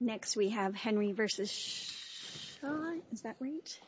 Next we have Henry v. Shah, is that right? Henry v. Shah, is that right? Henry v. Shah, is that right?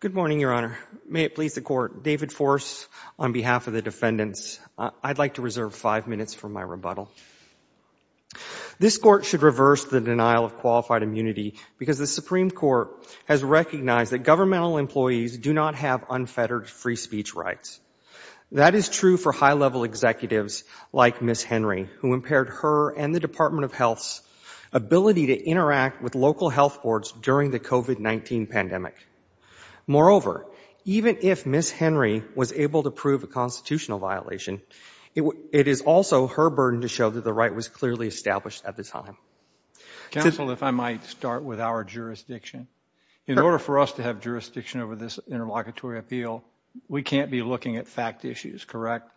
Good morning, Your Honor. May it please the Court, David Force on behalf of the defendants, I'd like to reserve five minutes for my rebuttal. This Court should reverse the denial of qualified immunity because the Supreme Court has recognized that governmental employees do not have unfettered free speech rights. That is true for high-level executives like Ms. Henry, who impaired her and the Department of Health's ability to interact with local health boards during the COVID-19 pandemic. Moreover, even if Ms. Henry was able to prove a constitutional violation, it is also her burden to show that the right was clearly established at the time. Counsel, if I might start with our jurisdiction. In order for us to have jurisdiction over this interlocutory appeal, we can't be looking at fact issues, correct?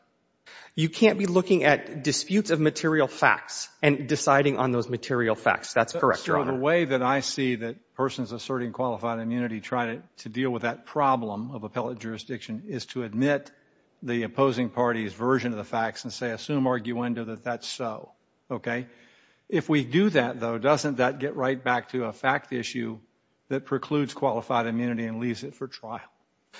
You can't be looking at disputes of material facts and deciding on those material facts, that's correct, Your Honor. So the way that I see that persons asserting qualified immunity trying to deal with that problem of appellate jurisdiction is to admit the opposing party's version of the facts and say, assume arguendo that that's so, okay? If we do that, though, doesn't that get right back to a fact issue that precludes qualified immunity and leaves it for trial?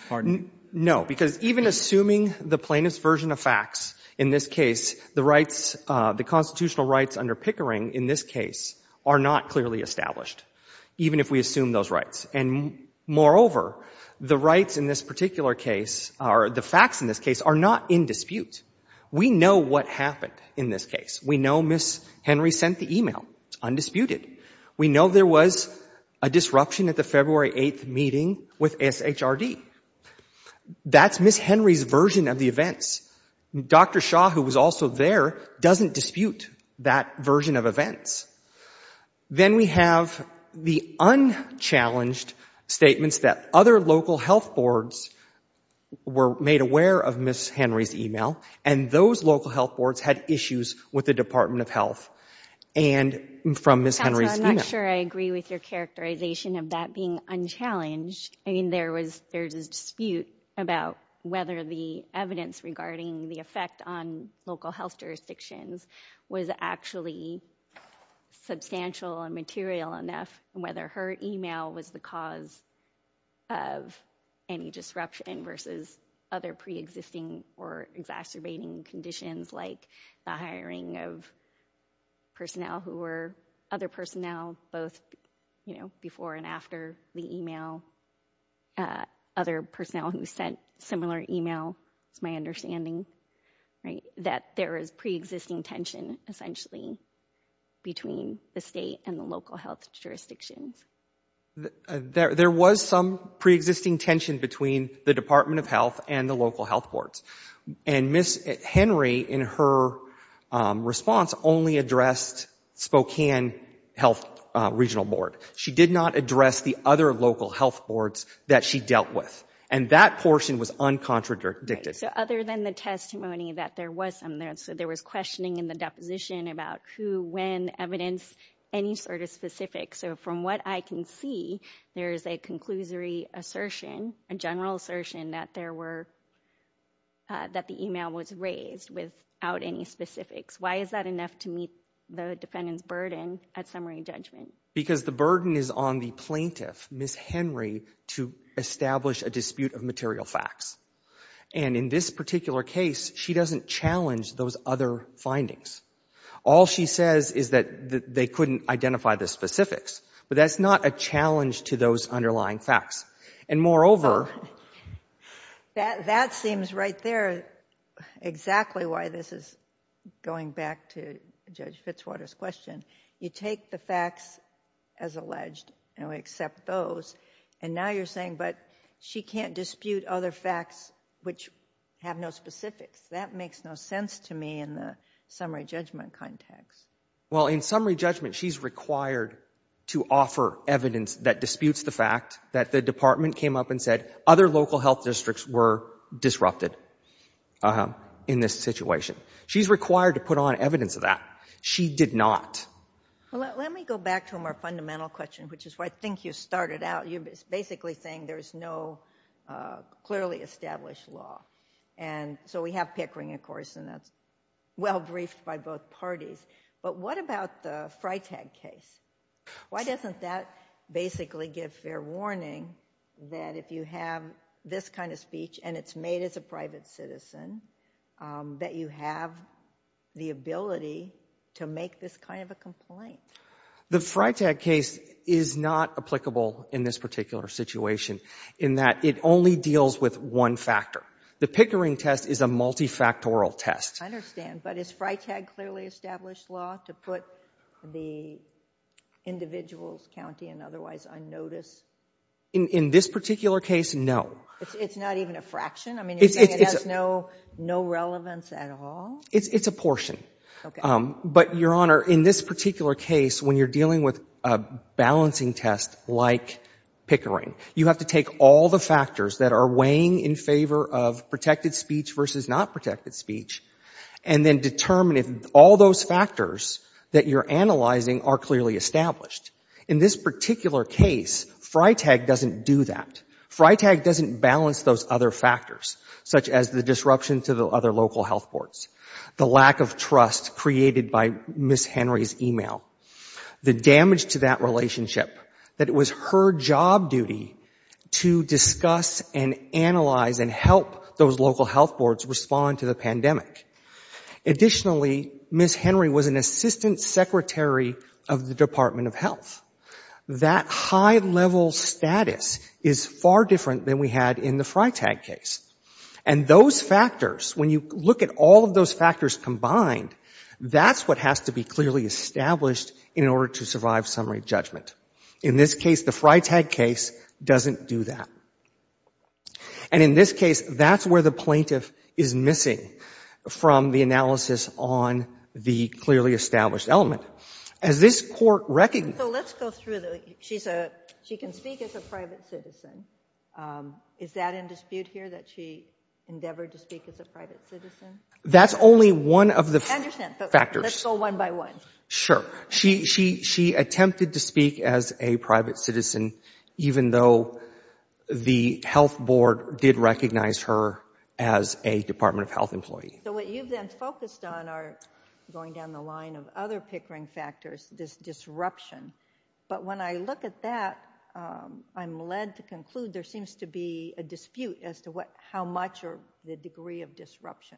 Pardon me. No, because even assuming the plaintiff's version of facts, in this case, the constitutional rights under Pickering, in this case, are not clearly established, even if we assume those rights. And moreover, the rights in this particular case, or the facts in this case, are not in dispute. We know what happened in this case. We know Ms. Henry sent the email, undisputed. We know there was a disruption at the February 8th meeting with SHRD. That's Ms. Henry's version of the events. Dr. Shaw, who was also there, doesn't dispute that version of events. Then we have the unchallenged statements that other local health boards were made aware of Ms. Henry's email, and those local health boards had issues with the Department of Health and from Ms. Henry's email. Counselor, I'm not sure I agree with your characterization of that being unchallenged. I mean, there was, there's a dispute about whether the evidence regarding the effect on local health jurisdictions was actually substantial and material enough, and whether her email was the cause of any disruption versus other pre-existing or exacerbating conditions like the hiring of personnel who were, other personnel, both, you know, before and after the email. Other personnel who sent similar email, it's my understanding, right, that there is pre-existing tension, essentially, between the state and the local health jurisdictions. There was some pre-existing tension between the Department of Health and the local health boards, and Ms. Henry, in her response, only addressed Spokane Health Regional Board. She did not address the other local health boards that she dealt with, and that portion was uncontradicted. So other than the testimony that there was some, so there was questioning in the deposition about who, when, evidence, any sort of specifics, so from what I can see, there is a conclusory assertion, a general assertion, that there were, that the email was raised without any specifics. Why is that enough to meet the defendant's burden at summary judgment? Because the burden is on the plaintiff, Ms. Henry, to establish a dispute of material facts, and in this particular case, she doesn't challenge those other findings. All she says is that they couldn't identify the specifics, but that's not a challenge to those underlying facts. And moreover... That seems right there, exactly why this is going back to Judge Fitzwater's question. You take the facts as alleged, and we accept those, and now you're saying, but she can't dispute other facts which have no specifics. That makes no sense to me in the summary judgment context. Well, in summary judgment, she's required to offer evidence that disputes the fact that the department came up and said, other local health districts were disrupted in this situation. She's required to put on evidence of that. She did not. Let me go back to a more fundamental question, which is where I think you started out. You're basically saying there's no clearly established law. And so we have Pickering, of course, and that's well briefed by both parties. But what about the Freitag case? Why doesn't that basically give fair warning that if you have this kind of speech and it's made as a private citizen, that you have the ability to make this kind of a complaint? The Freitag case is not applicable in this particular situation in that it only deals with one factor. The Pickering test is a multifactorial test. I understand. But is Freitag clearly established law to put the individual's county in otherwise unnoticed? In this particular case, no. It's not even a fraction? I mean, you're saying it has no relevance at all? It's a portion. Okay. But, Your Honor, in this particular case, when you're dealing with a balancing test like Pickering, you have to take all the factors that are weighing in favor of protected speech versus not protected speech and then determine if all those factors that you're analyzing are clearly established. In this particular case, Freitag doesn't do that. Freitag doesn't balance those other factors, such as the disruption to the other local health boards, the lack of trust created by Ms. Henry's email, the damage to that relationship, that it was her job duty to discuss and analyze and help those local health boards respond to the pandemic. Additionally, Ms. Henry was an assistant secretary of the Department of Health. That high-level status is far different than we had in the Freitag case. And those factors, when you look at all of those factors combined, that's what has to be clearly established in order to survive summary judgment. In this case, the Freitag case doesn't do that. And in this case, that's where the plaintiff is missing from the analysis on the clearly established element. As this Court recognizes the fact that the plaintiff is a private citizen, is that in dispute here, that she endeavored to speak as a private citizen? That's only one of the factors. I understand. But let's go one by one. Sure. She attempted to speak as a private citizen, even though the health board did recognize her as a Department of Health employee. So what you've then focused on are, going down the line of other pickering factors, this disruption. But when I look at that, I'm led to conclude there seems to be a dispute as to how much or the degree of disruption.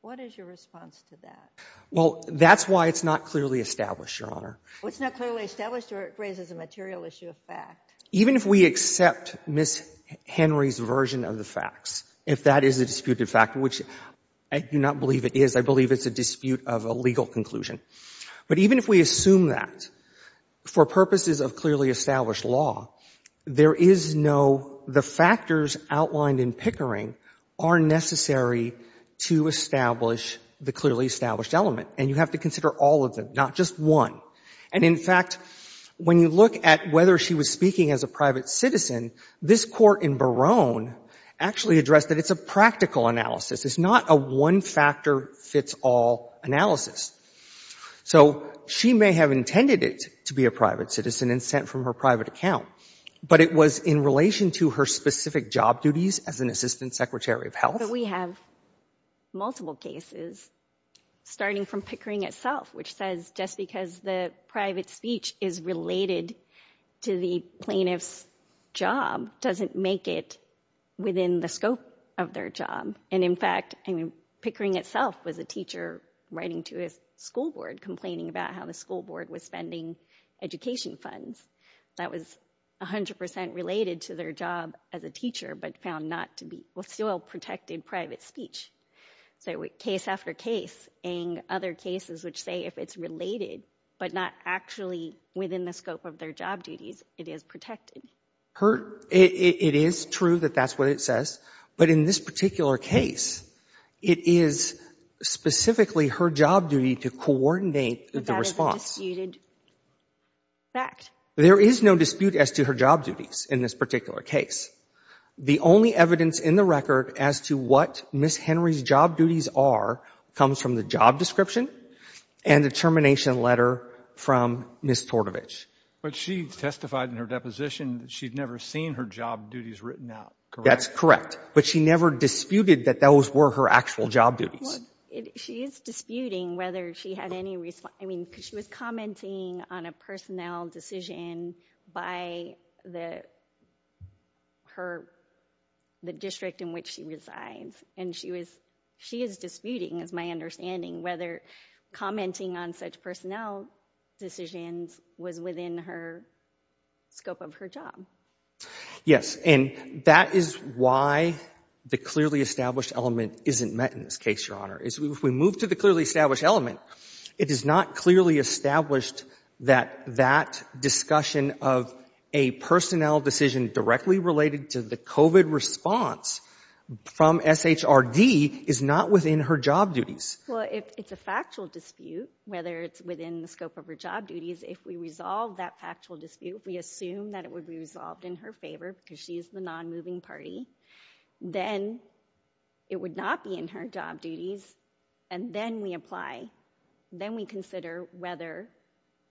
What is your response to that? Well, that's why it's not clearly established, Your Honor. Well, it's not clearly established or it raises a material issue of fact. Even if we accept Ms. Henry's version of the facts, if that is a disputed fact, which I do not believe it is, I believe it's a dispute of a legal conclusion. But even if we assume that, for purposes of clearly established law, there is no—the factors outlined in pickering are necessary to establish the clearly established element. And you have to consider all of them, not just one. And in fact, when you look at whether she was speaking as a private citizen, this court in Barone actually addressed that it's a practical analysis. It's not a one-factor-fits-all analysis. So she may have intended it to be a private citizen and sent from her private account, but it was in relation to her specific job duties as an assistant secretary of health. We have multiple cases, starting from pickering itself, which says just because the private speech is related to the plaintiff's job doesn't make it within the scope of their job. And in fact, I mean, pickering itself was a teacher writing to his school board complaining about how the school board was spending education funds that was 100 percent related to their job as a teacher, but found not to be—well, still protected private speech. So case after case, and other cases which say if it's related, but not actually within the scope of their job duties, it is protected. It is true that that's what it says, but in this particular case, it is specifically her job duty to coordinate the response. But that is a disputed fact. There is no dispute as to her job duties in this particular case. The only evidence in the record as to what Ms. Henry's job duties are comes from the job description and the termination letter from Ms. Tortovich. But she testified in her deposition that she'd never seen her job duties written out, correct? That's correct. But she never disputed that those were her actual job duties. She is disputing whether she had any—I mean, she was commenting on a personnel decision by the district in which she resides, and she is disputing, is my understanding, whether commenting on such personnel decisions was within her scope of her job. Yes, and that is why the clearly established element isn't met in this case, Your Honor. If we move to the clearly established element, it is not clearly established that that discussion of a personnel decision directly related to the COVID response from SHRD is not within her job duties. Well, if it's a factual dispute, whether it's within the scope of her job duties, if we resolve that factual dispute, we assume that it would be resolved in her favor because she is the non-moving party, then it would not be in her job duties, and then we apply. Then we consider whether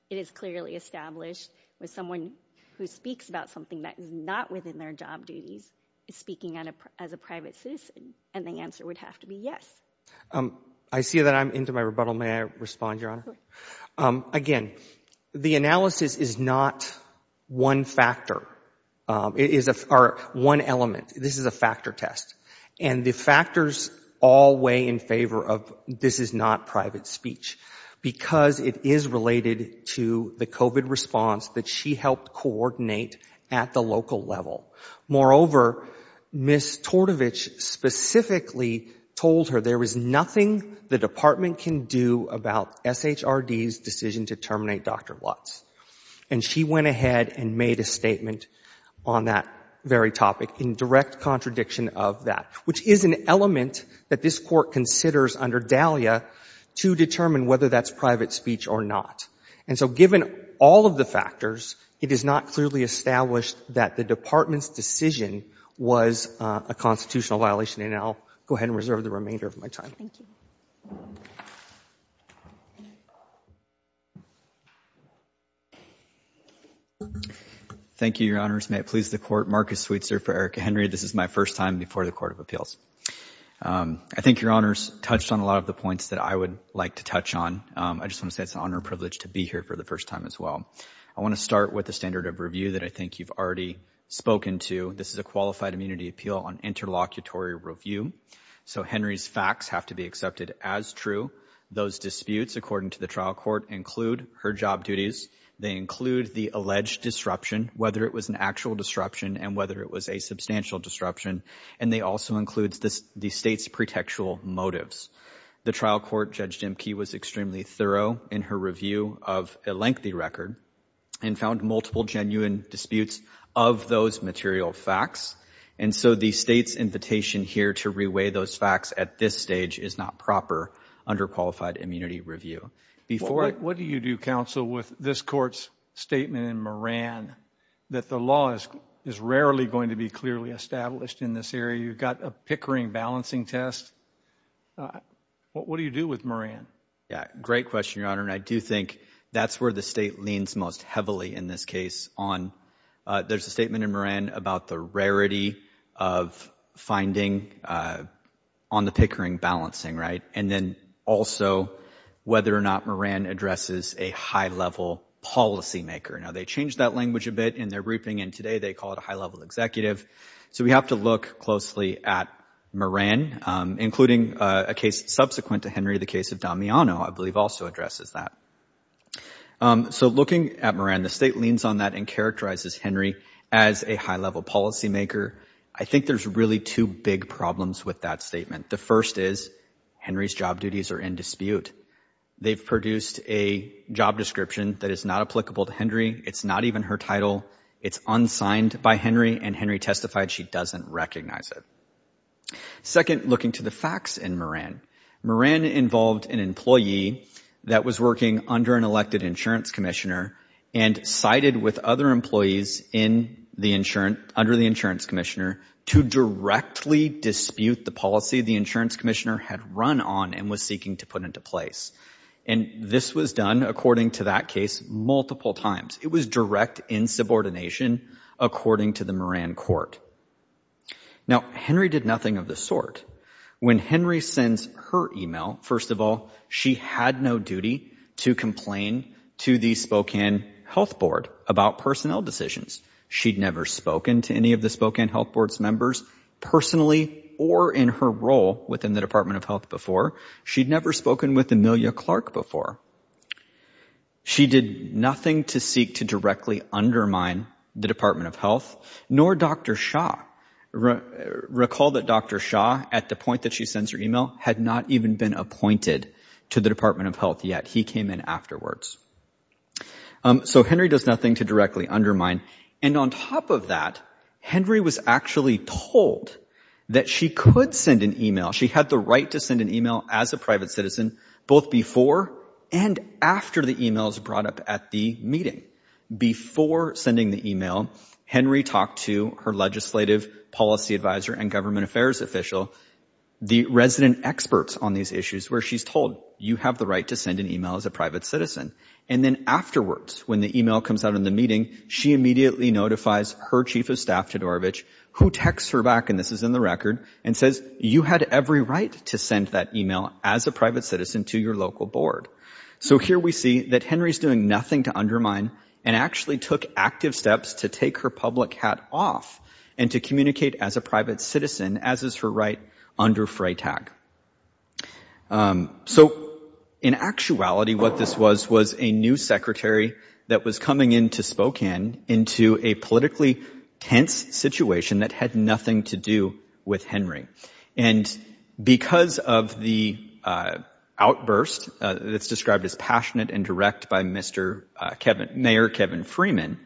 it is clearly established that someone who speaks about something that is not within their job duties is speaking as a private citizen, and the answer would have to be yes. I see that I'm into my rebuttal. May I respond, Your Honor? Again, the analysis is not one factor, or one element. This is a factor test, and the factors all weigh in favor of this is not private speech because it is related to the COVID response that she helped coordinate at the local level. Moreover, Ms. Tortovich specifically told her there is nothing the Department can do about SHRD's decision to terminate Dr. Watts, and she went ahead and made a statement on that very topic in direct contradiction of that, which is an element that this Court considers under DALIA to determine whether that's private speech or not. And so given all of the factors, it is not clearly established that the Department's decision was a constitutional violation, and I'll go ahead and reserve the remainder of my time. Thank you, Your Honors. May it please the Court, Marcus Sweetser for Erika Henry. This is my first time before the Court of Appeals. I think Your Honors touched on a lot of the points that I would like to touch on. I just want to say it's an honor and privilege to be here for the first time as well. I want to start with the standard of review that I think you've already spoken to. This is a Qualified Immunity Appeal on Interlocutory Review. So Henry's facts have to be accepted as true. Those disputes, according to the trial court, include her job duties. They include the alleged disruption, whether it was an actual disruption and whether it was a substantial disruption, and they also include the State's pretextual motives. The trial court, Judge Dimke, was extremely thorough in her review of a lengthy record and found multiple genuine disputes of those material facts. And so the State's invitation here to reweigh those facts at this stage is not proper under Qualified Immunity Review. What do you do, Counsel, with this Court's statement in Moran that the law is rarely going to be clearly established in this area? You've got a Pickering balancing test. What do you do with Moran? Yeah, great question, Your Honor. And I do think that's where the State leans most heavily in this case on. There's a statement in Moran about the rarity of finding on the Pickering balancing. Right. And then also whether or not Moran addresses a high level policymaker. Now, they changed that language a bit in their briefing. And today they call it a high level executive. So we have to look closely at Moran, including a case subsequent to Henry, the case of Damiano, I believe also addresses that. So looking at Moran, the State leans on that and characterizes Henry as a high level policymaker. I think there's really two big problems with that statement. The first is Henry's job duties are in dispute. They've produced a job description that is not applicable to Henry. It's not even her title. It's unsigned by Henry and Henry testified she doesn't recognize it. Second, looking to the facts in Moran, Moran involved an employee that was working under an elected insurance commissioner and sided with other employees in the insurance under the insurance commissioner to directly dispute the policy the insurance commissioner had run on and was seeking to put into place. And this was done, according to that case, multiple times. It was direct insubordination, according to the Moran court. Now, Henry did nothing of the sort. When Henry sends her email, first of all, she had no duty to complain to the Spokane Health Board about personnel decisions. She'd never spoken to any of the Spokane Health Board's members personally or in her role within the Department of Health before. She'd never spoken with Amelia Clark before. She did nothing to seek to directly undermine the Department of Health, nor Dr. Shah. Recall that Dr. Shah, at the point that she sends her email, had not even been appointed to the Department of Health yet. He came in afterwards. So Henry does nothing to directly undermine. And on top of that, Henry was actually told that she could send an email. She had the right to send an email as a private citizen, both before and after the email was brought up at the meeting. Before sending the email, Henry talked to her legislative policy advisor and government affairs official, the resident experts on these issues, where she's told, you have the right to send an email as a private citizen. And then afterwards, when the email comes out in the meeting, she immediately notifies her chief of staff, Todorovic, who texts her back, and this is in the record, and says, you had every right to send that email as a private citizen to your local board. So here we see that Henry's doing nothing to undermine and actually took active steps to take her public hat off and to communicate as a private citizen, as is her right under Freytag. So in actuality, what this was, was a new secretary that was coming into Spokane into a politically tense situation that had nothing to do with Henry. And because of the outburst that's described as passionate and direct by Mayor Kevin Freeman,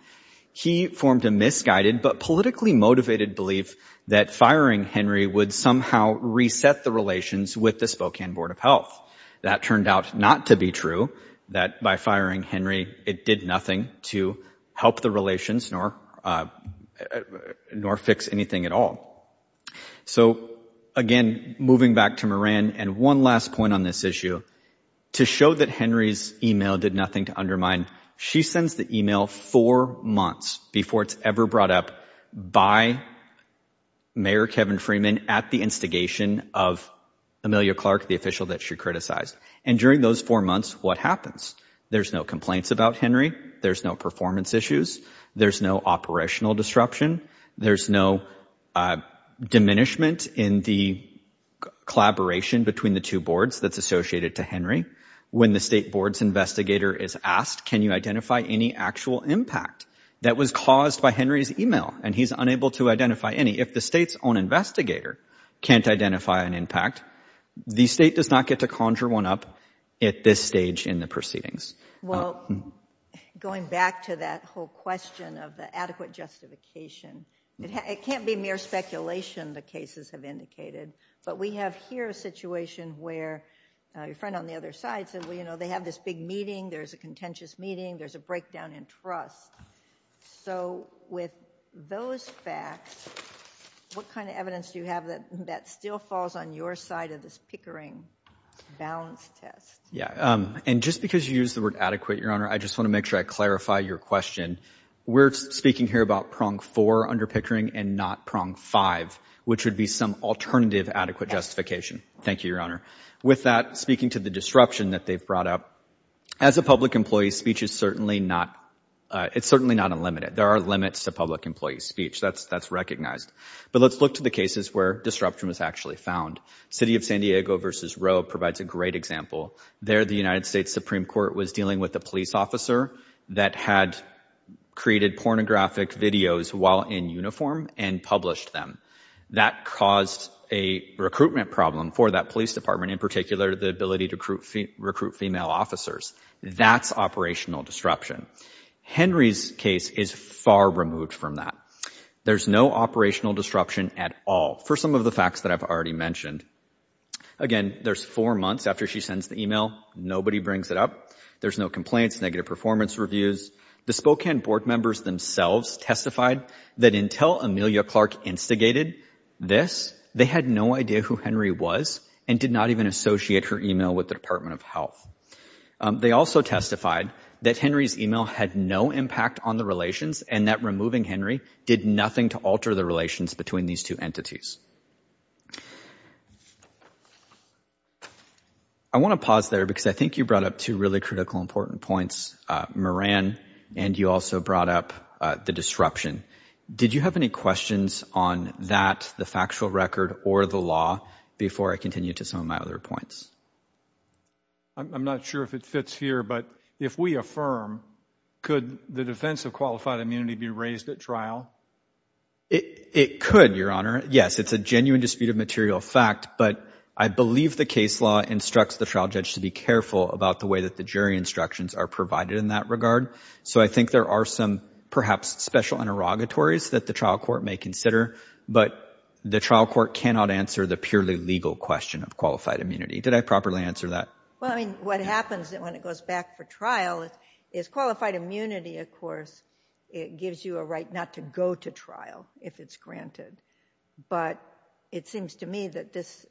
he formed a misguided but politically motivated belief that firing Henry would somehow reset the relations with the Spokane Board of Health. That turned out not to be true, that by firing Henry, it did nothing to help the relations nor fix anything at all. So again, moving back to Moran and one last point on this issue, to show that Henry's email did nothing to undermine, she sends the email four months before it's ever brought up by Mayor Kevin Freeman at the instigation of Amelia Clark, the official that she criticized. And during those four months, what happens? There's no complaints about Henry. There's no performance issues. There's no operational disruption. There's no diminishment in the collaboration between the two boards that's associated to Henry. When the state board's investigator is asked, can you identify any actual impact that was caused by Henry's email? And he's unable to identify any. If the state's own investigator can't identify an impact, the state does not get to conjure one up at this stage in the proceedings. Well, going back to that whole question of the adequate justification, it can't be mere speculation, the cases have indicated. But we have here a situation where your friend on the other side said, well, you know, they have this big meeting. There's a contentious meeting. There's a breakdown in trust. So with those facts, what kind of evidence do you have that that still falls on your side of this Pickering balance test? Yeah, and just because you use the word adequate, Your Honor, I just want to make sure I clarify your question. We're speaking here about prong four under Pickering and not prong five, which would be some alternative adequate justification. Thank you, Your Honor. With that, speaking to the disruption that they've brought up as a public employee, speech is certainly not it's certainly not unlimited. There are limits to public employee speech. That's that's recognized. But let's look to the cases where disruption was actually found. City of San Diego versus Roe provides a great example there. The United States Supreme Court was dealing with a police officer that had created pornographic videos while in uniform and published them. That caused a recruitment problem for that police department, in particular, the ability to recruit female officers. That's operational disruption. Henry's case is far removed from that. There's no operational disruption at all. For some of the facts that I've already mentioned again, there's four months after she sends the email. Nobody brings it up. There's no complaints, negative performance reviews. The Spokane board members themselves testified that until Amelia Clark instigated this, they had no idea who Henry was and did not even associate her email with the Department of Health. They also testified that Henry's email had no impact on the relations and that removing Henry did nothing to alter the relations between these two entities. I want to pause there because I think you brought up two really critical, important points, Moran, and you also brought up the disruption. Did you have any questions on that, the factual record or the law before I continue to some of my other points? I'm not sure if it fits here, but if we affirm, could the defense of qualified immunity be raised at trial? It could, Your Honor. Yes, it's a genuine dispute of material fact, but I believe the case law instructs the trial judge to be careful about the way that the jury instructions are provided in that regard. So I think there are some perhaps special interrogatories that the trial court may consider, but the trial court cannot answer the purely legal question of qualified immunity. Did I properly answer that? Well, I mean, what happens when it goes back for trial is qualified immunity, of course, it gives you a right not to go to trial if it's granted. But it seems to me that this,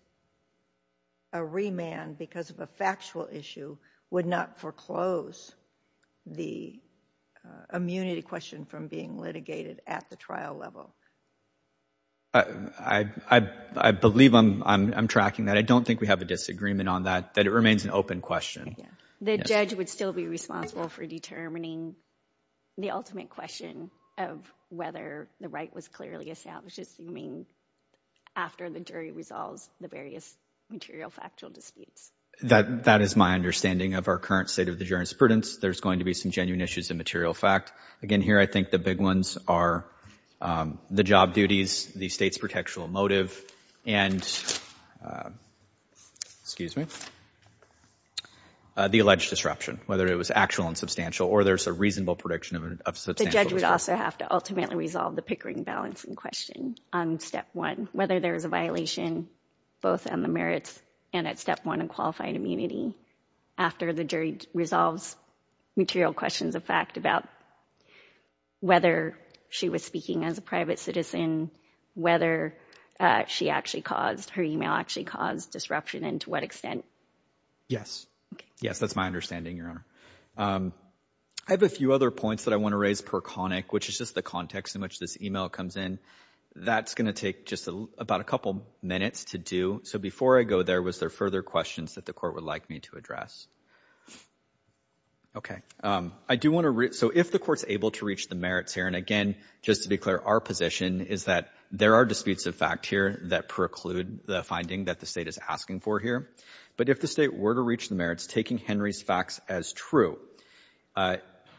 a remand because of a factual issue would not foreclose the immunity question from being litigated at the trial level. I believe I'm tracking that. I don't think we have a disagreement on that, that it remains an open question. The judge would still be responsible for determining the ultimate question of whether the right was clearly established, assuming after the jury resolves the various material factual disputes. That is my understanding of our current state of the jury's prudence. There's going to be some genuine issues in material fact. Again, here, I think the big ones are the job duties, the state's protectional motive and, excuse me, the alleged disruption, whether it was actual and substantial or there's a reasonable prediction of a substantial disruption. The judge would also have to ultimately resolve the Pickering balancing question on step one, whether there is a violation both on the merits and at step one in qualified immunity after the jury resolves material questions of fact about whether she was speaking as a judge and whether she actually caused, her email actually caused disruption and to what extent. Yes. Yes, that's my understanding, Your Honor. I have a few other points that I want to raise per conic, which is just the context in which this email comes in. That's going to take just about a couple minutes to do. So before I go there, was there further questions that the court would like me to OK, I do want to read, so if the court's able to reach the merits here, and again, just to declare our position is that there are disputes of fact here that preclude the finding that the state is asking for here. But if the state were to reach the merits, taking Henry's facts as true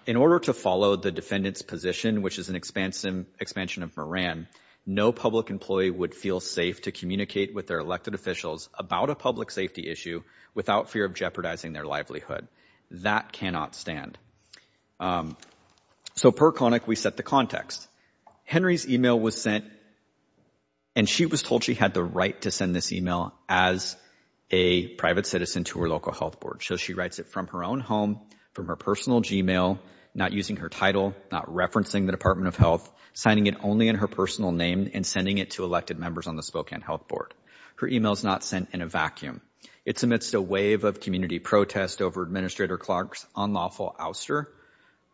in order to follow the defendant's position, which is an expansion of Moran, no public employee would feel safe to communicate with their elected officials about a public safety issue without fear of jeopardizing their livelihood. That cannot stand. So per conic, we set the context. Henry's email was sent and she was told she had the right to send this email as a private citizen to her local health board. So she writes it from her own home, from her personal Gmail, not using her title, not referencing the Department of Health, signing it only in her personal name and sending it to elected members on the Spokane Health Board. Her email is not sent in a vacuum. It's amidst a wave of community protest over administrator Clark's unlawful outsourcing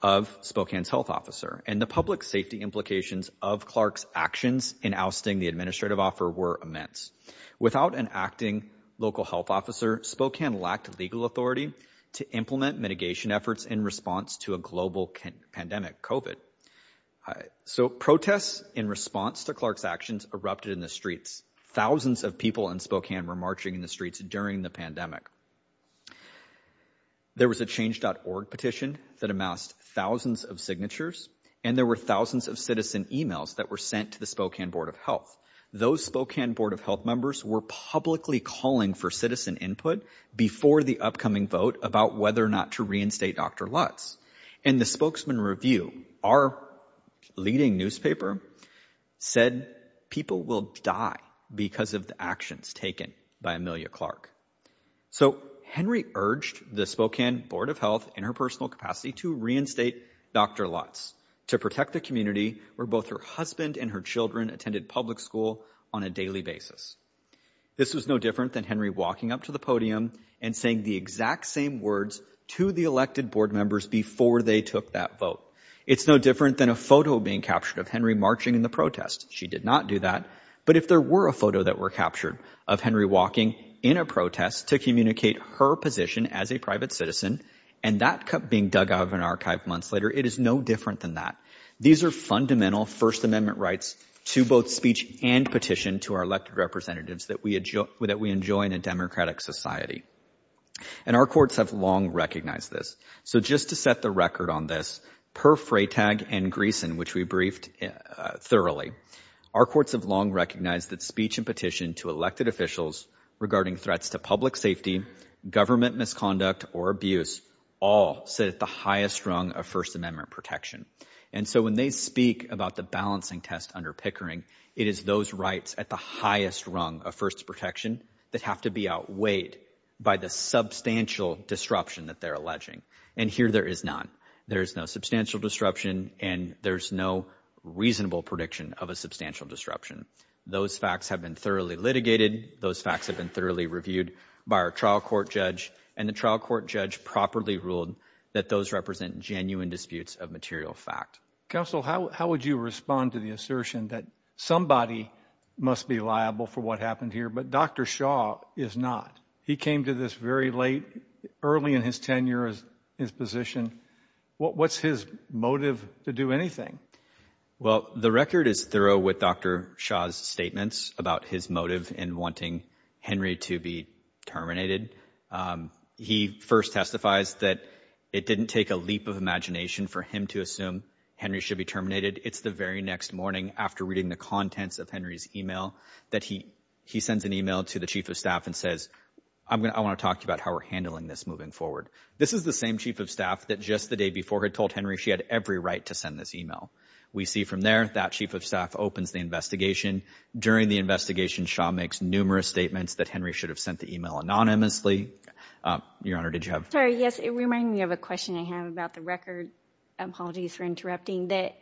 of Spokane's health officer and the public safety implications of Clark's actions in ousting the administrative offer were immense. Without an acting local health officer, Spokane lacked legal authority to implement mitigation efforts in response to a global pandemic, COVID. So protests in response to Clark's actions erupted in the streets. Thousands of people in Spokane were marching in the streets during the pandemic. There was a Change.org petition that amassed thousands of signatures, and there were thousands of citizen emails that were sent to the Spokane Board of Health. Those Spokane Board of Health members were publicly calling for citizen input before the upcoming vote about whether or not to reinstate Dr. Lutz. And the spokesman review, our leading newspaper, said people will die because of the actions taken by Amelia Clark. So Henry urged the Spokane Board of Health in her personal capacity to reinstate Dr. Lutz to protect the community where both her husband and her children attended public school on a daily basis. This was no different than Henry walking up to the podium and saying the exact same words to the elected board members before they took that vote. It's no different than a photo being captured of Henry marching in the protest. She did not do that. But if there were a photo that were captured of Henry walking in a protest to communicate her position as a private citizen and that being dug out of an archive months later, it is no different than that. These are fundamental First Amendment rights to both speech and petition to our elected representatives that we enjoy in a democratic society. And our courts have long recognized this. So just to set the record on this, per Freytag and Greeson, which we briefed thoroughly, our courts have long recognized that speech and petition to elected officials regarding threats to public safety, government misconduct or abuse all sit at the highest rung of First Amendment protection. And so when they speak about the balancing test under Pickering, it is those rights at the highest rung of first protection that have to be outweighed by the substantial disruption that they're alleging. And here there is not. There is no substantial disruption and there's no reasonable prediction of a substantial disruption. Those facts have been thoroughly litigated. Those facts have been thoroughly reviewed by our trial court judge and the trial court judge properly ruled that those represent genuine disputes of material fact. Counsel, how would you respond to the assertion that somebody must be liable for what happened here? But Dr. Shaw is not. He came to this very late, early in his tenure as his position. What's his motive to do anything? Well, the record is thorough with Dr. Shaw's statements about his motive in wanting Henry to be terminated. He first testifies that it didn't take a leap of imagination for him to assume Henry should be terminated. It's the very next morning after reading the contents of Henry's email that he he sends an email to the chief of staff and says, I want to talk about how we're handling this moving forward. This is the same chief of staff that just the day before had told Henry she had every right to send this email. We see from there that chief of staff opens the investigation. During the investigation, Shaw makes numerous statements that Henry should have sent the email anonymously. Your Honor, did you have? Sorry, yes. It reminded me of a question I have about the record. Apologies for interrupting that.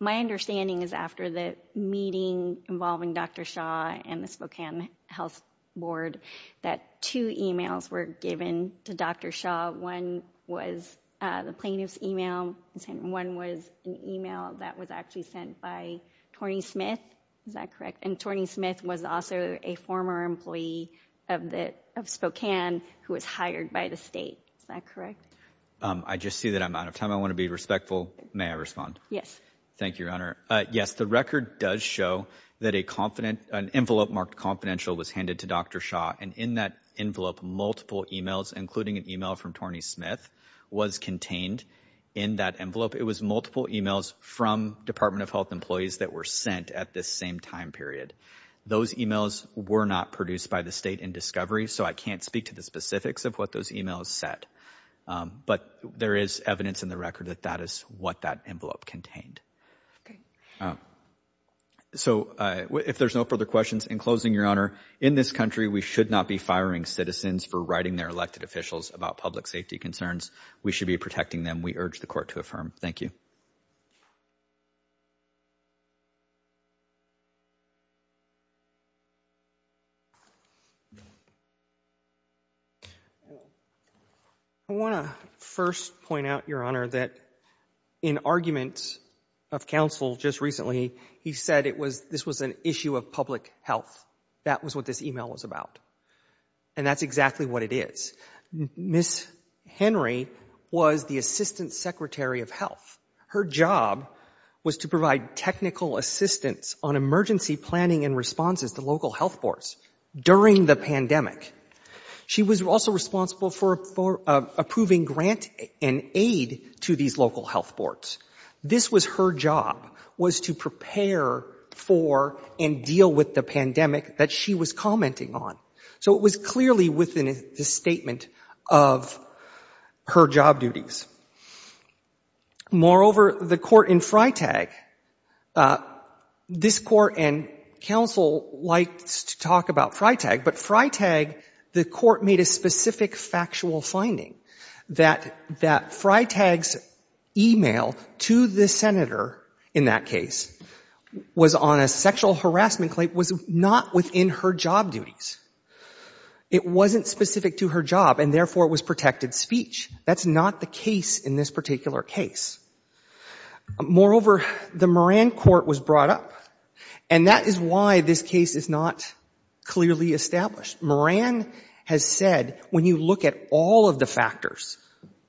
My understanding is after the meeting involving Dr. Shaw and the Spokane Health Board, that two emails were given to Dr. Shaw. One was the plaintiff's email. One was an email that was actually sent by Tony Smith. Is that correct? And Tony Smith was also a former employee of Spokane who was hired by the state. Is that correct? I just see that I'm out of time. I want to be respectful. May I respond? Yes. Thank you, Your Honor. Yes, the record does show that a confident an envelope marked confidential was handed to Dr. Shaw. And in that envelope, multiple emails, including an email from Tony Smith, was contained in that envelope. It was multiple emails from Department of Health employees that were sent at this same time period. Those emails were not produced by the state in discovery. So I can't speak to the specifics of what those emails said. But there is evidence in the record that that is what that envelope contained. So if there's no further questions, in closing, Your Honor, in this country, we should not be firing citizens for writing their elected officials about public safety concerns. We should be protecting them. We urge the court to affirm. Thank you. I want to first point out, Your Honor, that in arguments of counsel just recently, he said it was this was an issue of public health. That was what this email was about. And that's exactly what it is. Ms. Henry was the assistant secretary of health. Her job was to provide technical assistance on emergency planning and responses to local health boards during the pandemic. She was also responsible for approving grant and aid to these local health boards. This was her job, was to prepare for and deal with the pandemic that she was commenting on. So it was clearly within the statement of her job duties. Moreover, the court in Freitag, this court and counsel likes to talk about Freitag, but Freitag, the court made a specific factual finding that that Freitag's email to the senator in that case was on a sexual harassment claim, was not within her job duties. It wasn't specific to her job, and therefore it was protected speech. That's not the case. In this particular case, moreover, the Moran court was brought up and that is why this case is not clearly established. Moran has said when you look at all of the factors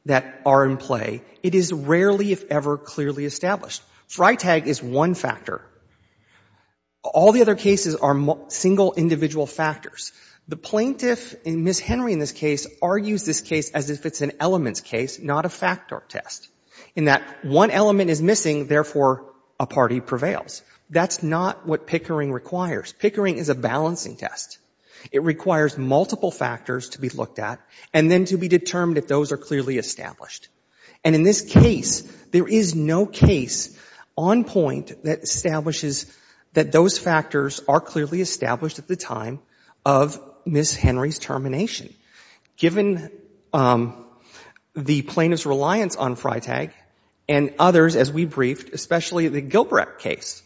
that are in play, it is rarely, if ever, clearly established. Freitag is one factor. All the other cases are single individual factors. The plaintiff, Ms. Henry in this case, argues this case as if it's an elements case, not a factor test, in that one element is missing, therefore a party prevails. That's not what Pickering requires. Pickering is a balancing test. It requires multiple factors to be looked at and then to be determined if those are clearly established. And in this case, there is no case on point that establishes that those factors are clearly established at the time of Ms. Henry's termination. Given the plaintiff's reliance on Freitag and others, as we briefed, especially the Gilbrecht case,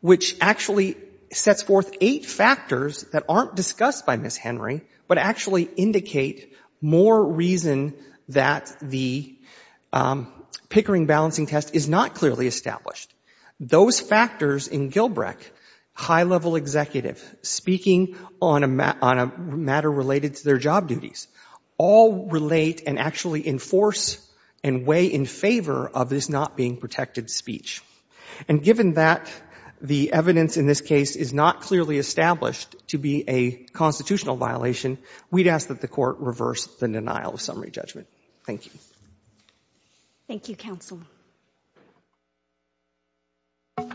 which actually sets forth eight factors that aren't discussed by Ms. Henry, but actually indicate more reason that the Pickering balancing test is not clearly established. Those factors in Gilbrecht, high-level executive, speaking on a matter related to their job duties, all relate and actually enforce and weigh in favor of this not being protected speech. And given that the evidence in this case is not clearly established to be a constitutional violation, we'd ask that the Court reverse the denial of summary judgment. Thank you. Thank you, counsel.